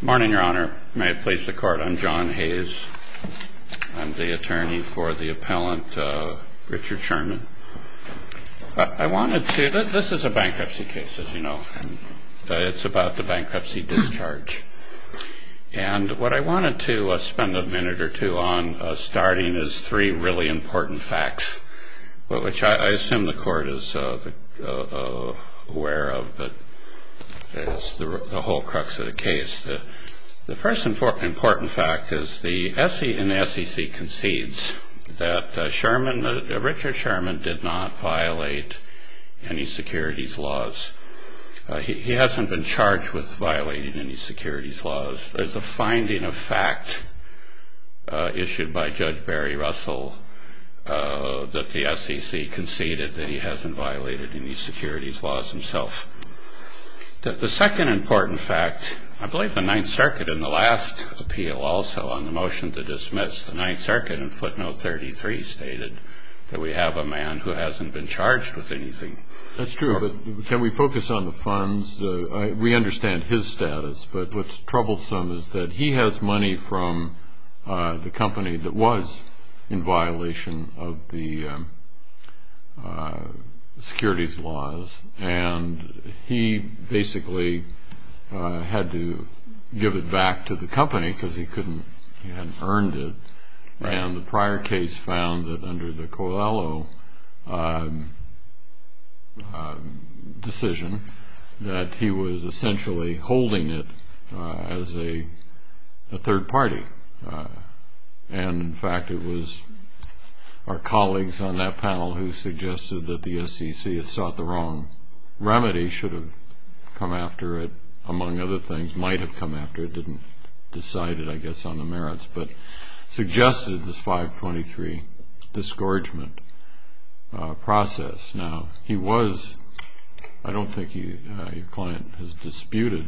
Morning, Your Honor. May it please the Court, I'm John Hayes. I'm the attorney for the appellant Richard Sherman. This is a bankruptcy case, as you know. It's about the bankruptcy discharge. And what I wanted to spend a minute or two on, starting, is three really important facts, which I assume the Court is aware of, but it's the whole crux of the case. The first important fact is the SEC concedes that Richard Sherman did not violate any securities laws. He hasn't been charged with violating any securities laws. There's a finding of fact issued by Judge Barry Russell that the SEC conceded that he hasn't violated any securities laws himself. The second important fact, I believe the Ninth Circuit in the last appeal also on the motion to dismiss the Ninth Circuit in footnote 33 stated that we have a man who hasn't been charged with anything. That's true, but can we focus on the funds? We understand his status, but what's troublesome is that he has money from the company that was in violation of the securities laws, and he basically had to give it back to the company because he couldn't, he hadn't earned it. And the prior case found that under the Coelho decision that he was essentially holding it as a third party. And, in fact, it was our colleagues on that panel who suggested that the SEC had sought the wrong remedy, should have come after it, among other things, might have come after it, didn't decide it, I guess, on the merits, but suggested this 523 discouragement process. Now, he was, I don't think your client has disputed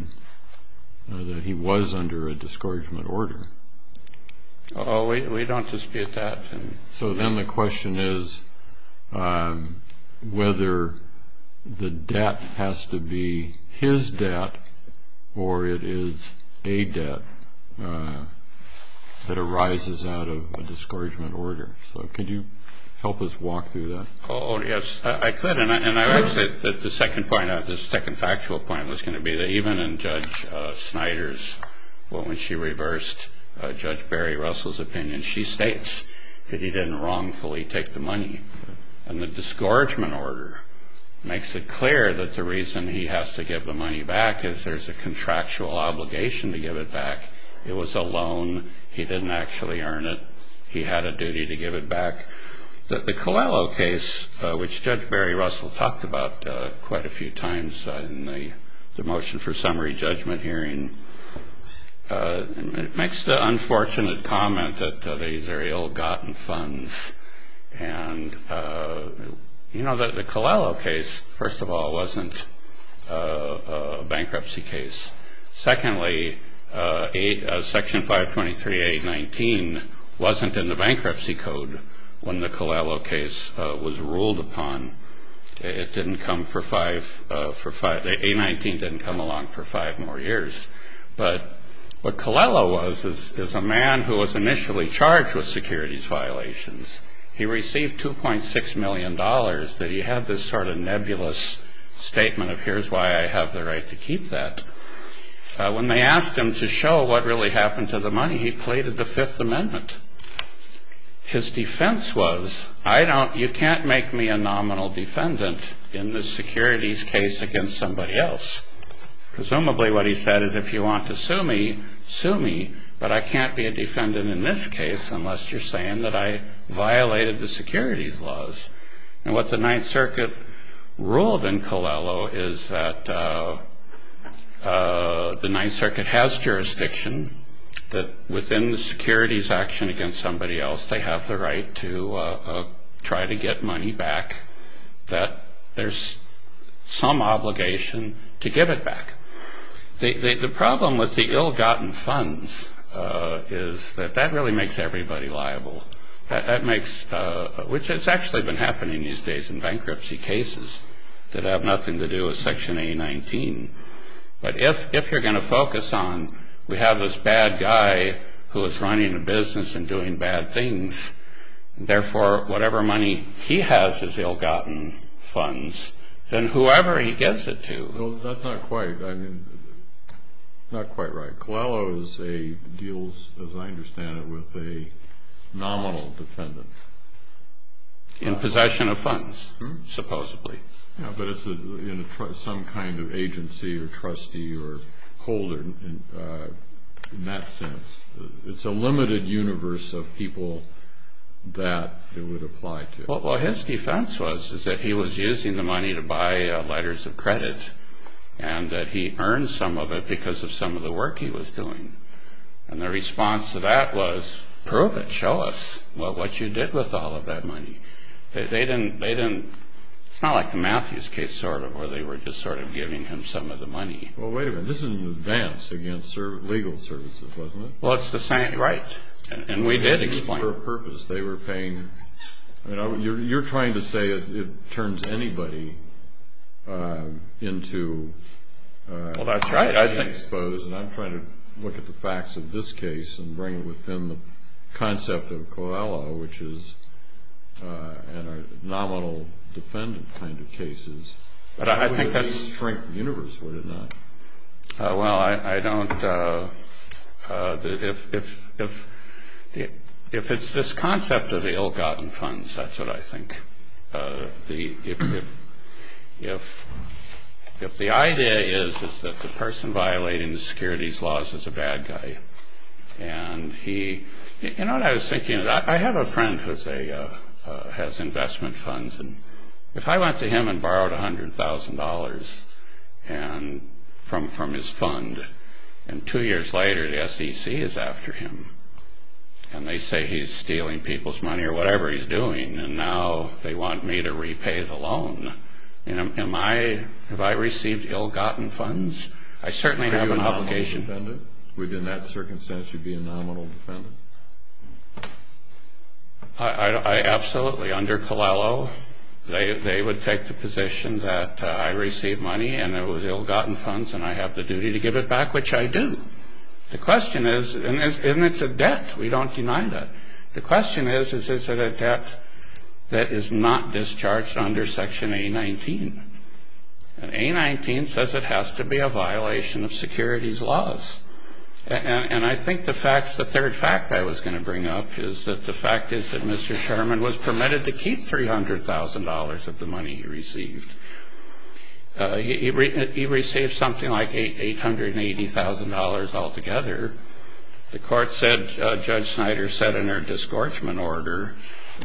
that he was under a discouragement order. Oh, we don't dispute that. So then the question is whether the debt has to be his debt or it is a debt that arises out of a discouragement order. So could you help us walk through that? Oh, yes, I could. And I would say that the second point, the second factual point was going to be that even in Judge Snyder's, well, when she reversed Judge Barry Russell's opinion, she states that he didn't wrongfully take the money. And the discouragement order makes it clear that the reason he has to give the money back is there's a contractual obligation to give it back. It was a loan. He didn't actually earn it. He had a duty to give it back. The Coelho case, which Judge Barry Russell talked about quite a few times in the motion for summary judgment hearing, it makes the unfortunate comment that these are ill-gotten funds. And, you know, the Coelho case, first of all, wasn't a bankruptcy case. Secondly, Section 523A19 wasn't in the bankruptcy code when the Coelho case was ruled upon. It didn't come for five ‑‑ A19 didn't come along for five more years. But what Coelho was is a man who was initially charged with securities violations. He received $2.6 million that he had this sort of nebulous statement of here's why I have the right to keep that. When they asked him to show what really happened to the money, he pleaded the Fifth Amendment. His defense was, I don't ‑‑ you can't make me a nominal defendant in this securities case against somebody else. Presumably what he said is if you want to sue me, sue me, but I can't be a defendant in this case unless you're saying that I violated the securities laws. And what the Ninth Circuit ruled in Coelho is that the Ninth Circuit has jurisdiction that within the securities action against somebody else they have the right to try to get money back, that there's some obligation to give it back. The problem with the ill‑gotten funds is that that really makes everybody liable. That makes ‑‑ which has actually been happening these days in bankruptcy cases that have nothing to do with Section A19. But if you're going to focus on we have this bad guy who is running a business and doing bad things, therefore whatever money he has is ill‑gotten funds, then whoever he gives it to. Well, that's not quite right. Coelho deals, as I understand it, with a nominal defendant. In possession of funds, supposedly. Yeah, but it's some kind of agency or trustee or holder in that sense. It's a limited universe of people that it would apply to. Well, his defense was that he was using the money to buy letters of credit and that he earned some of it because of some of the work he was doing. And the response to that was, prove it, show us what you did with all of that money. They didn't ‑‑ it's not like the Matthews case sort of, where they were just sort of giving him some of the money. Well, wait a minute. This is in advance against legal services, wasn't it? Well, it's the same. Right. And we did explain. For a purpose. They were paying ‑‑ you're trying to say it turns anybody into ‑‑ Well, that's right. I think. I suppose, and I'm trying to look at the facts of this case and bring it within the concept of Coelho, which is a nominal defendant kind of cases. But I think that's. It wouldn't shrink the universe, would it not? Well, I don't ‑‑ if it's this concept of ill‑gotten funds, that's what I think. If the idea is that the person violating the securities laws is a bad guy, and he ‑‑ you know what I was thinking? I have a friend who has investment funds. If I went to him and borrowed $100,000 from his fund, and two years later the SEC is after him, and they say he's stealing people's money or whatever he's doing, and now they want me to repay the loan, have I received ill‑gotten funds? I certainly have an obligation. Are you a nominal defendant? Within that circumstance, you'd be a nominal defendant? I absolutely. Under Coelho, they would take the position that I received money, and it was ill‑gotten funds, and I have the duty to give it back, which I do. The question is, and it's a debt. We don't deny that. The question is, is it a debt that is not discharged under Section A19? And A19 says it has to be a violation of securities laws. And I think the third fact I was going to bring up is that the fact is that Mr. Sherman was permitted to keep $300,000 of the money he received. He received something like $880,000 altogether. The court said, Judge Snyder said in her disgorgement order,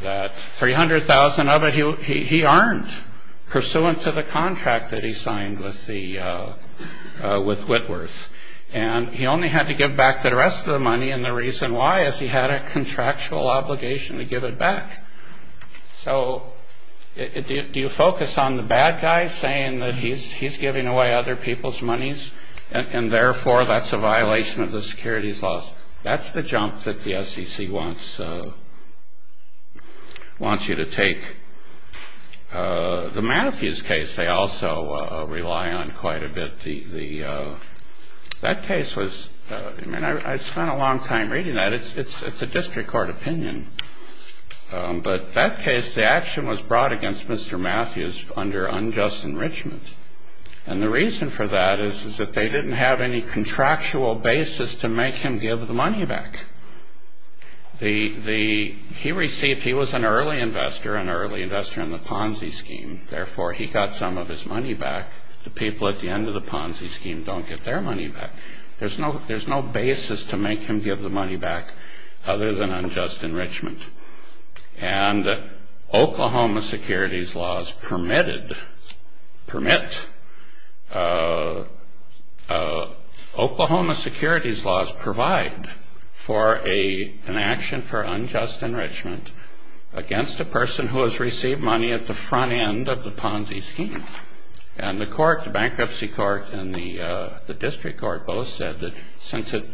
that $300,000 of it he earned pursuant to the contract that he signed with Whitworth. And he only had to give back the rest of the money, and the reason why is he had a contractual obligation to give it back. So do you focus on the bad guy saying that he's giving away other people's monies and, therefore, that's a violation of the securities laws? That's the jump that the SEC wants you to take. The Matthews case they also rely on quite a bit. That case was, I mean, I spent a long time reading that. It's a district court opinion. But that case, the action was brought against Mr. Matthews under unjust enrichment. And the reason for that is that they didn't have any contractual basis to make him give the money back. He was an early investor, an early investor in the Ponzi scheme. Therefore, he got some of his money back. The people at the end of the Ponzi scheme don't get their money back. There's no basis to make him give the money back other than unjust enrichment. And Oklahoma securities laws permitted, permit, Oklahoma securities laws provide for an action for unjust enrichment against a person who has received money at the front end of the Ponzi scheme. And the court, the bankruptcy court and the district court, both said that since it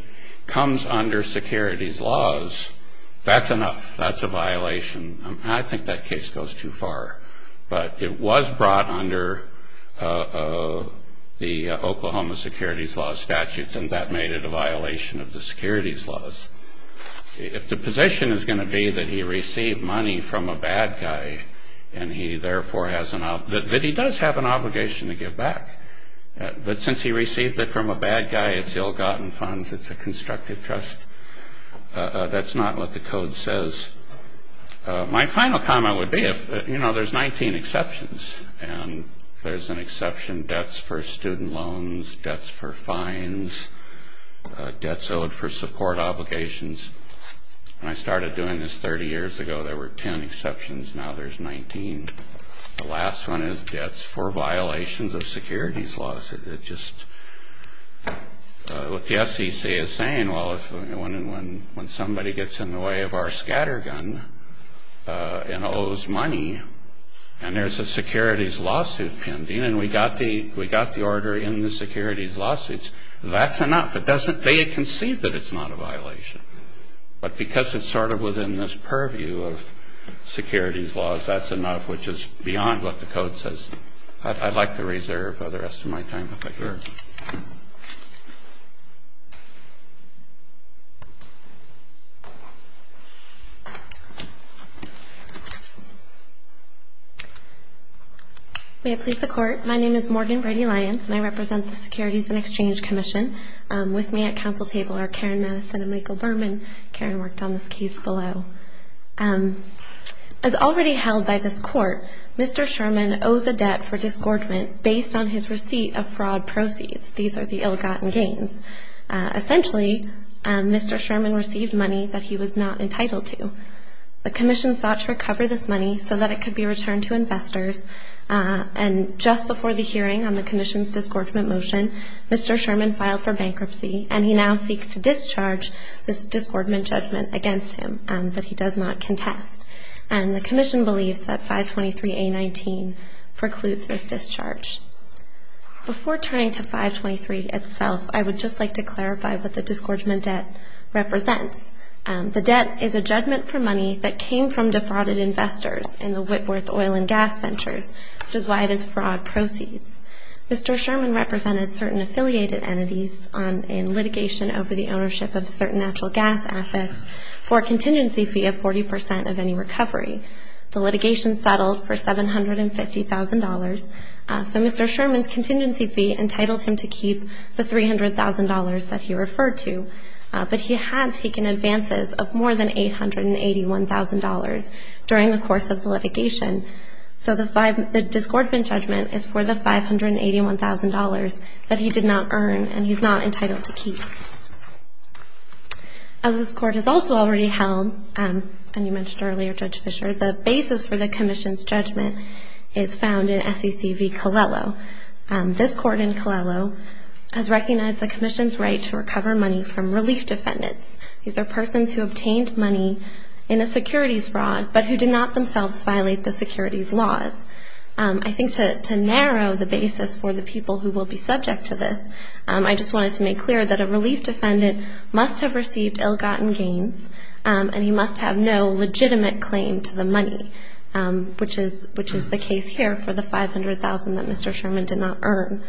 comes under securities laws, that's enough. That's a violation. I think that case goes too far. But it was brought under the Oklahoma securities law statutes, and that made it a violation of the securities laws. If the position is going to be that he received money from a bad guy, and he therefore has an obligation, that he does have an obligation to give back. But since he received it from a bad guy, it's ill-gotten funds. It's a constructive trust. That's not what the code says. My final comment would be, you know, there's 19 exceptions. And there's an exception, debts for student loans, debts for fines, debts owed for support obligations. When I started doing this 30 years ago, there were 10 exceptions. Now there's 19. The last one is debts for violations of securities laws. It just, what the SEC is saying, well, when somebody gets in the way of our scatter gun and owes money, and there's a securities lawsuit pending, and we got the order in the securities lawsuits, that's enough. It doesn't, they can see that it's not a violation. But because it's sort of within this purview of securities laws, that's enough, which is beyond what the code says. I'd like to reserve the rest of my time, if I could. Sure. May it please the Court. My name is Morgan Brady-Lyons, and I represent the Securities and Exchange Commission. With me at council table are Karen Maness and Michael Berman. Karen worked on this case below. As already held by this Court, Mr. Sherman owes a debt for discordment based on his receipt of fraud proceeds. These are the ill-gotten gains. Essentially, Mr. Sherman received money that he was not entitled to. The Commission sought to recover this money so that it could be returned to investors, and just before the hearing on the Commission's discordment motion, Mr. Sherman filed for bankruptcy, and he now seeks to discharge this discordment judgment against him that he does not contest. And the Commission believes that 523A19 precludes this discharge. Before turning to 523 itself, I would just like to clarify what the discordment debt represents. The debt is a judgment for money that came from defrauded investors in the Whitworth oil and gas ventures, which is why it is fraud proceeds. Mr. Sherman represented certain affiliated entities in litigation over the ownership of certain natural gas assets for a contingency fee of 40 percent of any recovery. The litigation settled for $750,000. So Mr. Sherman's contingency fee entitled him to keep the $300,000 that he referred to, but he had taken advances of more than $881,000 during the course of the litigation. So the discordment judgment is for the $581,000 that he did not earn and he's not entitled to keep. As this Court has also already held, and you mentioned earlier, Judge Fischer, the basis for the Commission's judgment is found in SEC v. Colello. This Court in Colello has recognized the Commission's right to recover money from relief defendants. These are persons who obtained money in a securities fraud, but who did not themselves violate the securities laws. I think to narrow the basis for the people who will be subject to this, I just wanted to make clear that a relief defendant must have received ill-gotten gains and he must have no legitimate claim to the money, which is the case here for the $500,000 that Mr. Sherman did not earn.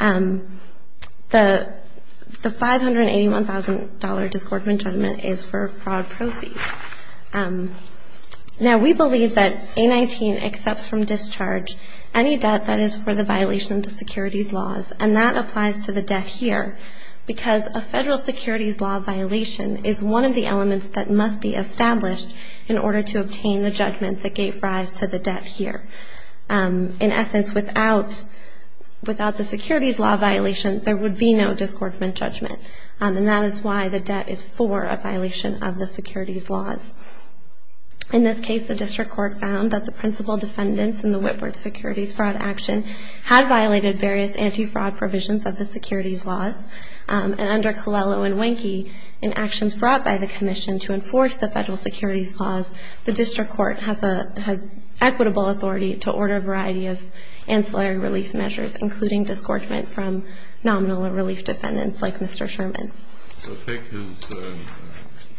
So the $581,000 discordment judgment is for fraud proceeds. Now, we believe that A-19 accepts from discharge any debt that is for the violation of the securities laws, and that applies to the debt here because a federal securities law violation is one of the elements that must be established in order to obtain the judgment that gave rise to the debt here. In essence, without the securities law violation, there would be no discordment judgment, and that is why the debt is for a violation of the securities laws. In this case, the District Court found that the principal defendants in the Whitworth securities fraud action had violated various anti-fraud provisions of the securities laws, and under Colello and Wenke, in actions brought by the Commission to enforce the federal securities laws, the District Court has equitable authority to order a variety of ancillary relief measures, including discordment from nominal relief defendants like Mr. Sherman. So take his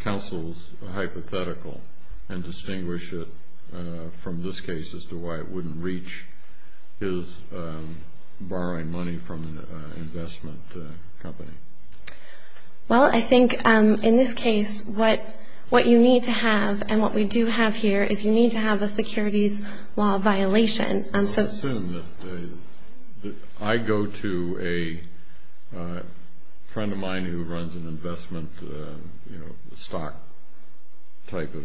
counsel's hypothetical and distinguish it from this case as to why it wouldn't reach his borrowing money from an investment company. Well, I think in this case what you need to have, and what we do have here, is you need to have a securities law violation. So I assume that I go to a friend of mine who runs an investment stock type of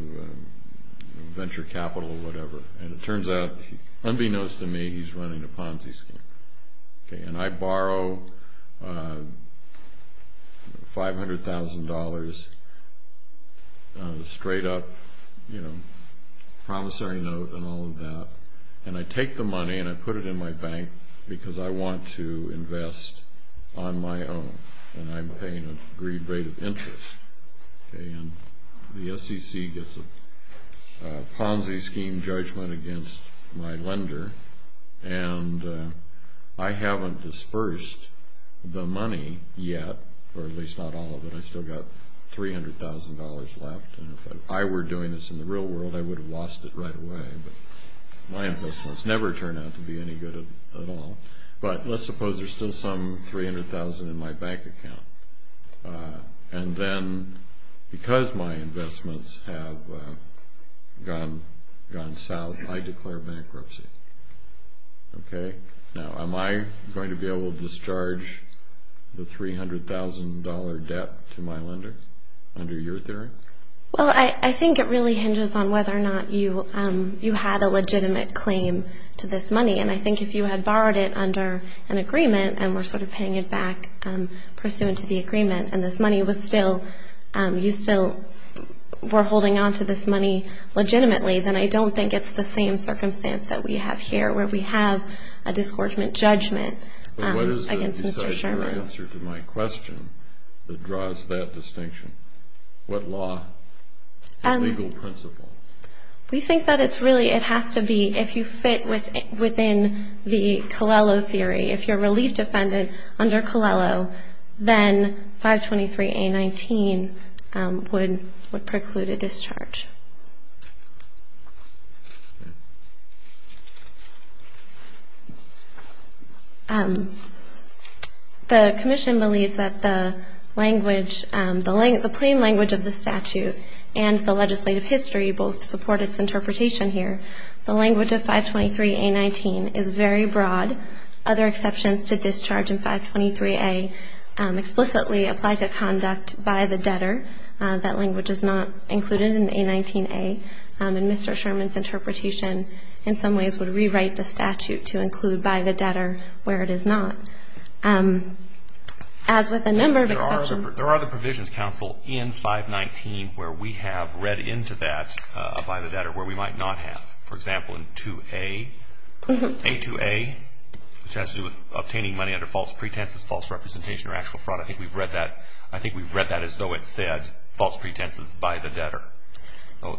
venture capital or whatever, and it turns out, unbeknownst to me, he's running a Ponzi scheme. And I borrow $500,000 on a straight-up promissory note and all of that, and I take the money and I put it in my bank because I want to invest on my own, and I'm paying an agreed rate of interest. And the SEC gets a Ponzi scheme judgment against my lender, and I haven't dispersed the money yet, or at least not all of it. I've still got $300,000 left, and if I were doing this in the real world, I would have lost it right away. My investments never turn out to be any good at all. But let's suppose there's still some $300,000 in my bank account. And then because my investments have gone south, I declare bankruptcy. Okay? Now, am I going to be able to discharge the $300,000 debt to my lender under your theory? Well, I think it really hinges on whether or not you had a legitimate claim to this money. And I think if you had borrowed it under an agreement and were sort of paying it back pursuant to the agreement and this money was still you still were holding onto this money legitimately, then I don't think it's the same circumstance that we have here where we have a disgorgement judgment against Mr. Sherman. But what is the decisive answer to my question that draws that distinction? What law? What legal principle? We think that it's really it has to be if you fit within the Colello theory. If you're a relief defendant under Colello, then 523A19 would preclude a discharge. The commission believes that the plain language of the statute and the legislative history both support its interpretation here. The language of 523A19 is very broad. Other exceptions to discharge in 523A explicitly apply to conduct by the debtor. That language is not included in A19A. And Mr. Sherman's interpretation in some ways would rewrite the statute to include by the debtor where it is not. As with a number of exceptions. There are other provisions, counsel, in 519 where we have read into that by the debtor where we might not have. For example, in 2A, A2A, which has to do with obtaining money under false pretenses, false representation or actual fraud. I think we've read that. I think we've read that as though it said false pretenses by the debtor.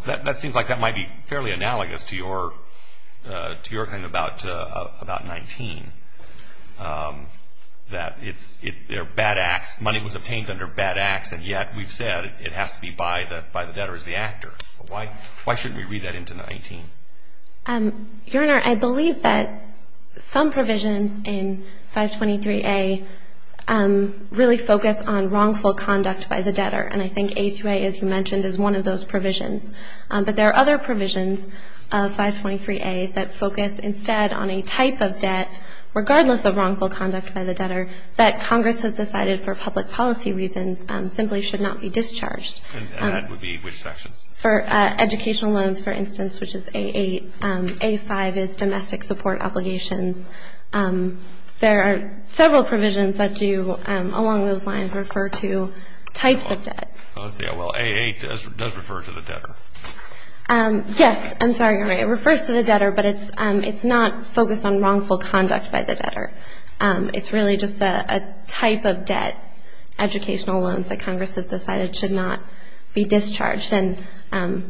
That seems like that might be fairly analogous to your thing about 19. That it's bad acts. Money was obtained under bad acts, and yet we've said it has to be by the debtor as the actor. Why shouldn't we read that into 19? Your Honor, I believe that some provisions in 523A really focus on wrongful conduct by the debtor. And I think A2A, as you mentioned, is one of those provisions. But there are other provisions of 523A that focus instead on a type of debt, regardless of wrongful conduct by the debtor, that Congress has decided for public policy reasons simply should not be discharged. And that would be which sections? For educational loans, for instance, which is A8, A5 is domestic support obligations. There are several provisions that do along those lines refer to types of debt. Well, A8 does refer to the debtor. Yes. I'm sorry, Your Honor. It refers to the debtor, but it's not focused on wrongful conduct by the debtor. It's really just a type of debt, educational loans, that Congress has decided should not be discharged. And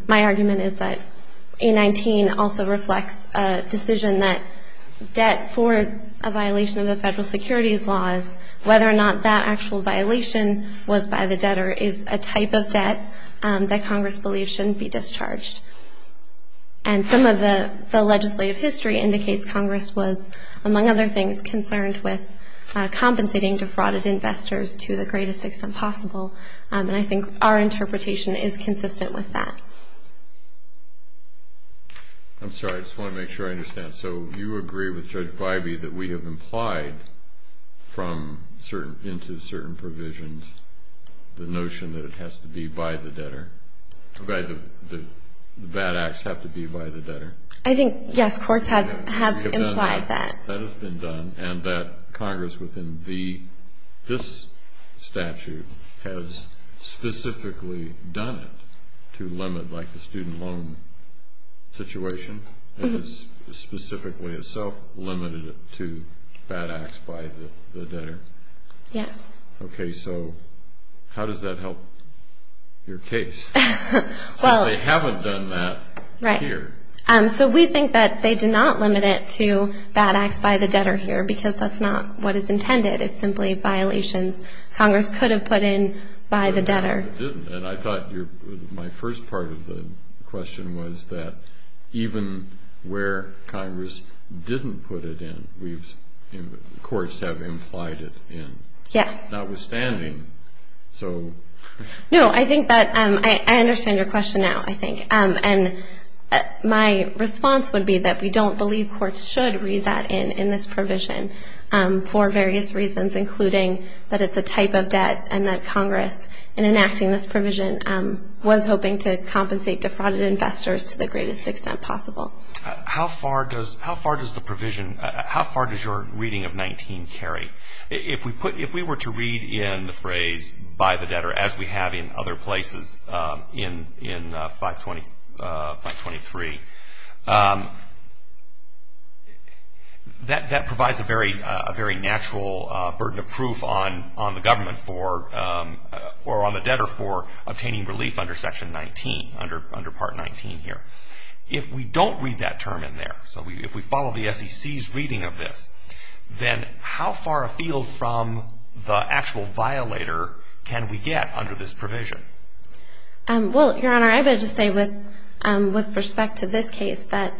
my argument is that A19 also reflects a decision that debt for a violation of the federal securities laws, whether or not that actual violation was by the debtor is a type of debt that Congress believes shouldn't be discharged. And some of the legislative history indicates Congress was, among other things, concerned with compensating defrauded investors to the greatest extent possible. And I think our interpretation is consistent with that. I'm sorry. I just want to make sure I understand. So you agree with Judge Bybee that we have implied into certain provisions the notion that it has to be by the debtor, that the bad acts have to be by the debtor? I think, yes, courts have implied that. That has been done, and that Congress within this statute has specifically done it to limit, like the student loan situation has specifically itself limited it to bad acts by the debtor? Yes. Okay. So how does that help your case since they haven't done that here? So we think that they did not limit it to bad acts by the debtor here because that's not what is intended. It's simply violations Congress could have put in by the debtor. And I thought my first part of the question was that even where Congress didn't put it in, courts have implied it in. Yes. Notwithstanding, so. No, I think that I understand your question now, I think. And my response would be that we don't believe courts should read that in in this provision for various reasons, including that it's a type of debt and that Congress, in enacting this provision, was hoping to compensate defrauded investors to the greatest extent possible. How far does the provision, how far does your reading of 19 carry? If we were to read in the phrase by the debtor, as we have in other places in 523, that provides a very natural burden of proof on the government for, or on the debtor for, obtaining relief under Section 19, under Part 19 here. If we don't read that term in there, so if we follow the SEC's reading of this, then how far afield from the actual violator can we get under this provision? Well, Your Honor, I would just say with respect to this case, that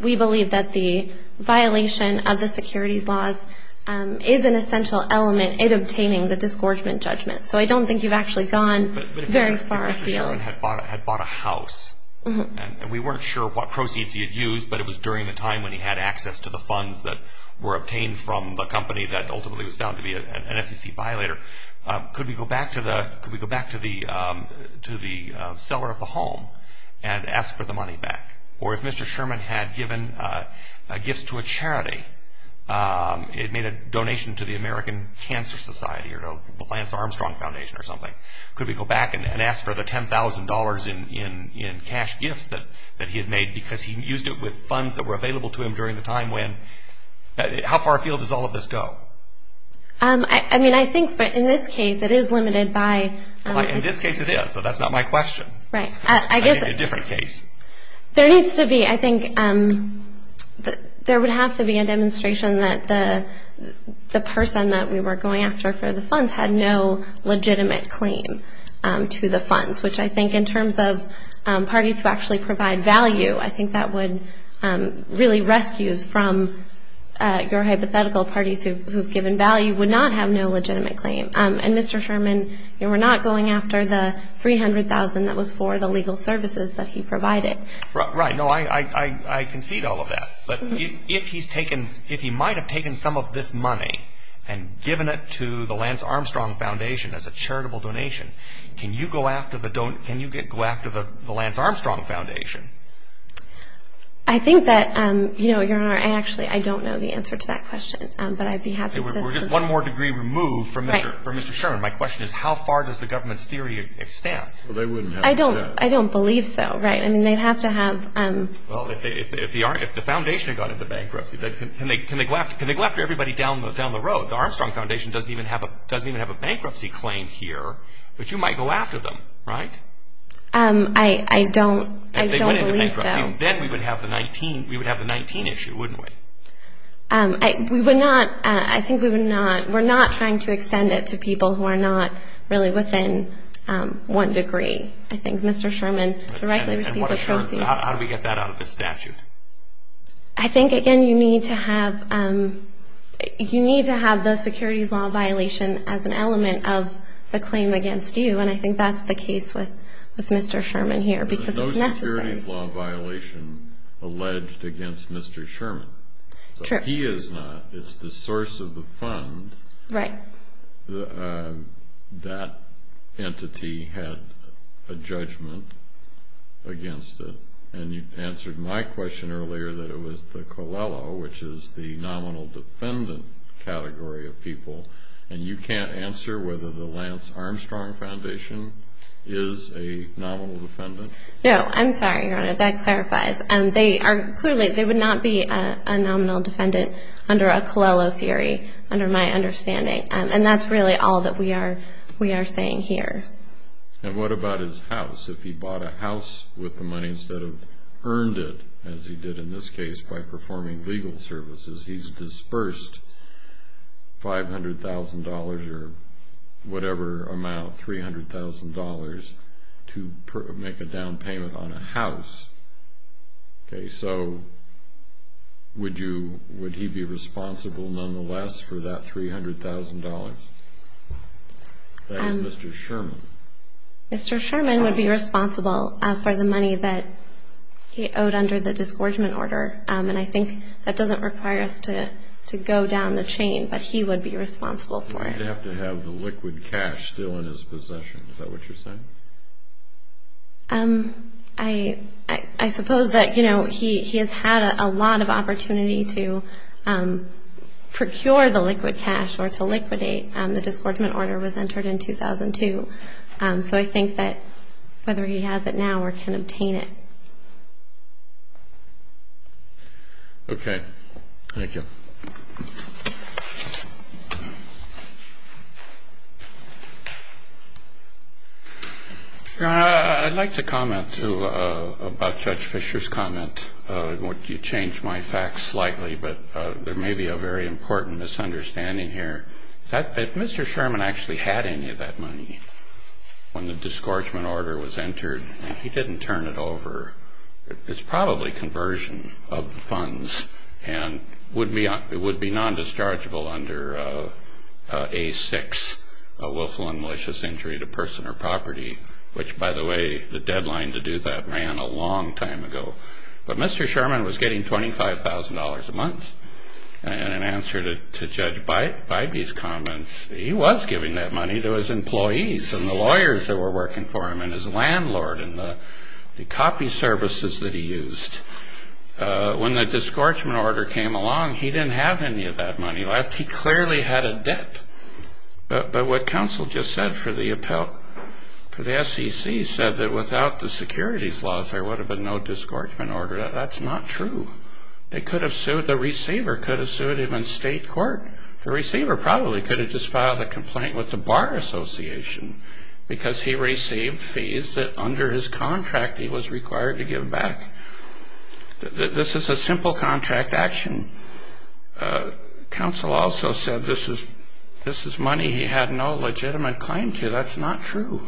we believe that the violation of the securities laws is an essential element in obtaining the disgorgement judgment. So I don't think you've actually gone very far afield. But if Mr. Sherman had bought a house, and we weren't sure what proceeds he had used, but it was during the time when he had access to the funds that were obtained from the company that ultimately was found to be an SEC violator, could we go back to the seller of the home and ask for the money back? Or if Mr. Sherman had given gifts to a charity, it made a donation to the American Cancer Society or the Lance Armstrong Foundation or something, could we go back and ask for the $10,000 in cash gifts that he had made because he used it with funds that were available to him during the time when? How far afield does all of this go? I mean, I think in this case it is limited by – In this case it is, but that's not my question. Right. I think a different case. There needs to be – I think there would have to be a demonstration that the person that we were going after for the funds had no legitimate claim to the funds, which I think in terms of parties who actually provide value, I think that would really – rescues from your hypothetical parties who have given value would not have no legitimate claim. And Mr. Sherman, you were not going after the $300,000 that was for the legal services that he provided. Right. No, I concede all of that. But if he's taken – if he might have taken some of this money and given it to the Lance Armstrong Foundation as a charitable donation, can you go after the Lance Armstrong Foundation? I think that – Your Honor, I actually don't know the answer to that question, but I'd be happy to assist. We're just one more degree removed from Mr. Sherman. My question is how far does the government's theory extend? Well, they wouldn't have – I don't believe so. Right. I mean, they'd have to have – Well, if the foundation had gone into bankruptcy, can they go after everybody down the road? The Armstrong Foundation doesn't even have a bankruptcy claim here, but you might go after them, right? I don't believe so. Then we would have the 19 issue, wouldn't we? We would not – I think we would not – we're not trying to extend it to people who are not really within one degree. I think Mr. Sherman directly received the proceeds. And what assurance – how do we get that out of the statute? I think, again, you need to have the securities law violation as an element of the claim against you, and I think that's the case with Mr. Sherman here because it's necessary. There's no securities law violation alleged against Mr. Sherman. True. He is not. It's the source of the funds. Right. That entity had a judgment against it, and you answered my question earlier that it was the Coelho, which is the nominal defendant category of people, and you can't answer whether the Lance Armstrong Foundation is a nominal defendant? No. I'm sorry, Your Honor. That clarifies. Clearly, they would not be a nominal defendant under a Coelho theory, under my understanding, and that's really all that we are saying here. And what about his house? If he bought a house with the money instead of earned it, as he did in this case by performing legal services, he's dispersed $500,000 or whatever amount, $300,000, to make a down payment on a house. Okay, so would he be responsible nonetheless for that $300,000? That is Mr. Sherman. Mr. Sherman would be responsible for the money that he owed under the disgorgement order, and I think that doesn't require us to go down the chain, but he would be responsible for it. He'd have to have the liquid cash still in his possession. Is that what you're saying? I suppose that he has had a lot of opportunity to procure the liquid cash or to liquidate. The disgorgement order was entered in 2002. So I think that whether he has it now or can obtain it. Okay. Thank you. I'd like to comment about Judge Fisher's comment. You changed my facts slightly, but there may be a very important misunderstanding here. If Mr. Sherman actually had any of that money when the disgorgement order was entered, he didn't turn it over. It would be non-dischargeable under A6, willful and malicious injury to person or property, which, by the way, the deadline to do that ran a long time ago. But Mr. Sherman was getting $25,000 a month, and in answer to Judge Bybee's comments, he was giving that money to his employees and the lawyers that were working for him and his landlord and the copy services that he used. When the disgorgement order came along, he didn't have any of that money left. He clearly had a debt. But what counsel just said for the SEC said that without the securities laws, there would have been no disgorgement order. That's not true. The receiver could have sued him in state court. The receiver probably could have just filed a complaint with the Bar Association because he received fees that under his contract he was required to give back. This is a simple contract action. Counsel also said this is money he had no legitimate claim to. That's not true.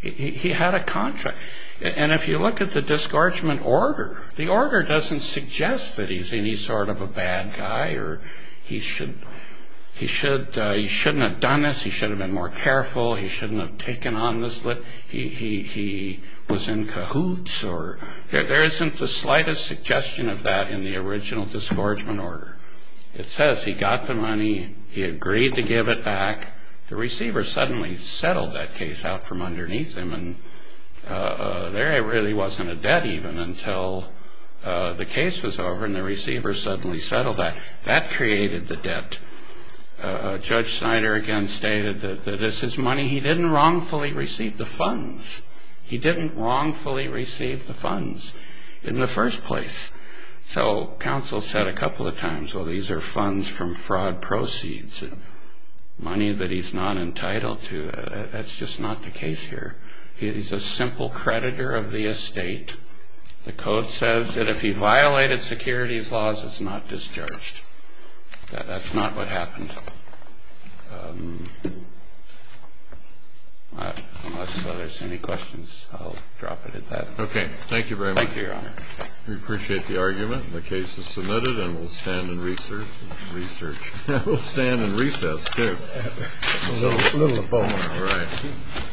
He had a contract. And if you look at the disgorgement order, the order doesn't suggest that he's any sort of a bad guy or he shouldn't have done this, he should have been more careful, he shouldn't have taken on this, he was in cahoots. There isn't the slightest suggestion of that in the original disgorgement order. It says he got the money, he agreed to give it back, the receiver suddenly settled that case out from underneath him and there really wasn't a debt even until the case was over and the receiver suddenly settled that. That created the debt. Judge Snyder again stated that this is money he didn't wrongfully receive the funds. He didn't wrongfully receive the funds in the first place. So counsel said a couple of times, well, these are funds from fraud proceeds, money that he's not entitled to. That's just not the case here. He's a simple creditor of the estate. The code says that if he violated securities laws, it's not discharged. That's not what happened. Unless there's any questions, I'll drop it at that. Okay. Thank you very much. Thank you, Your Honor. We appreciate the argument. The case is submitted and we'll stand in research. We'll stand in recess too. A little abonor. Right.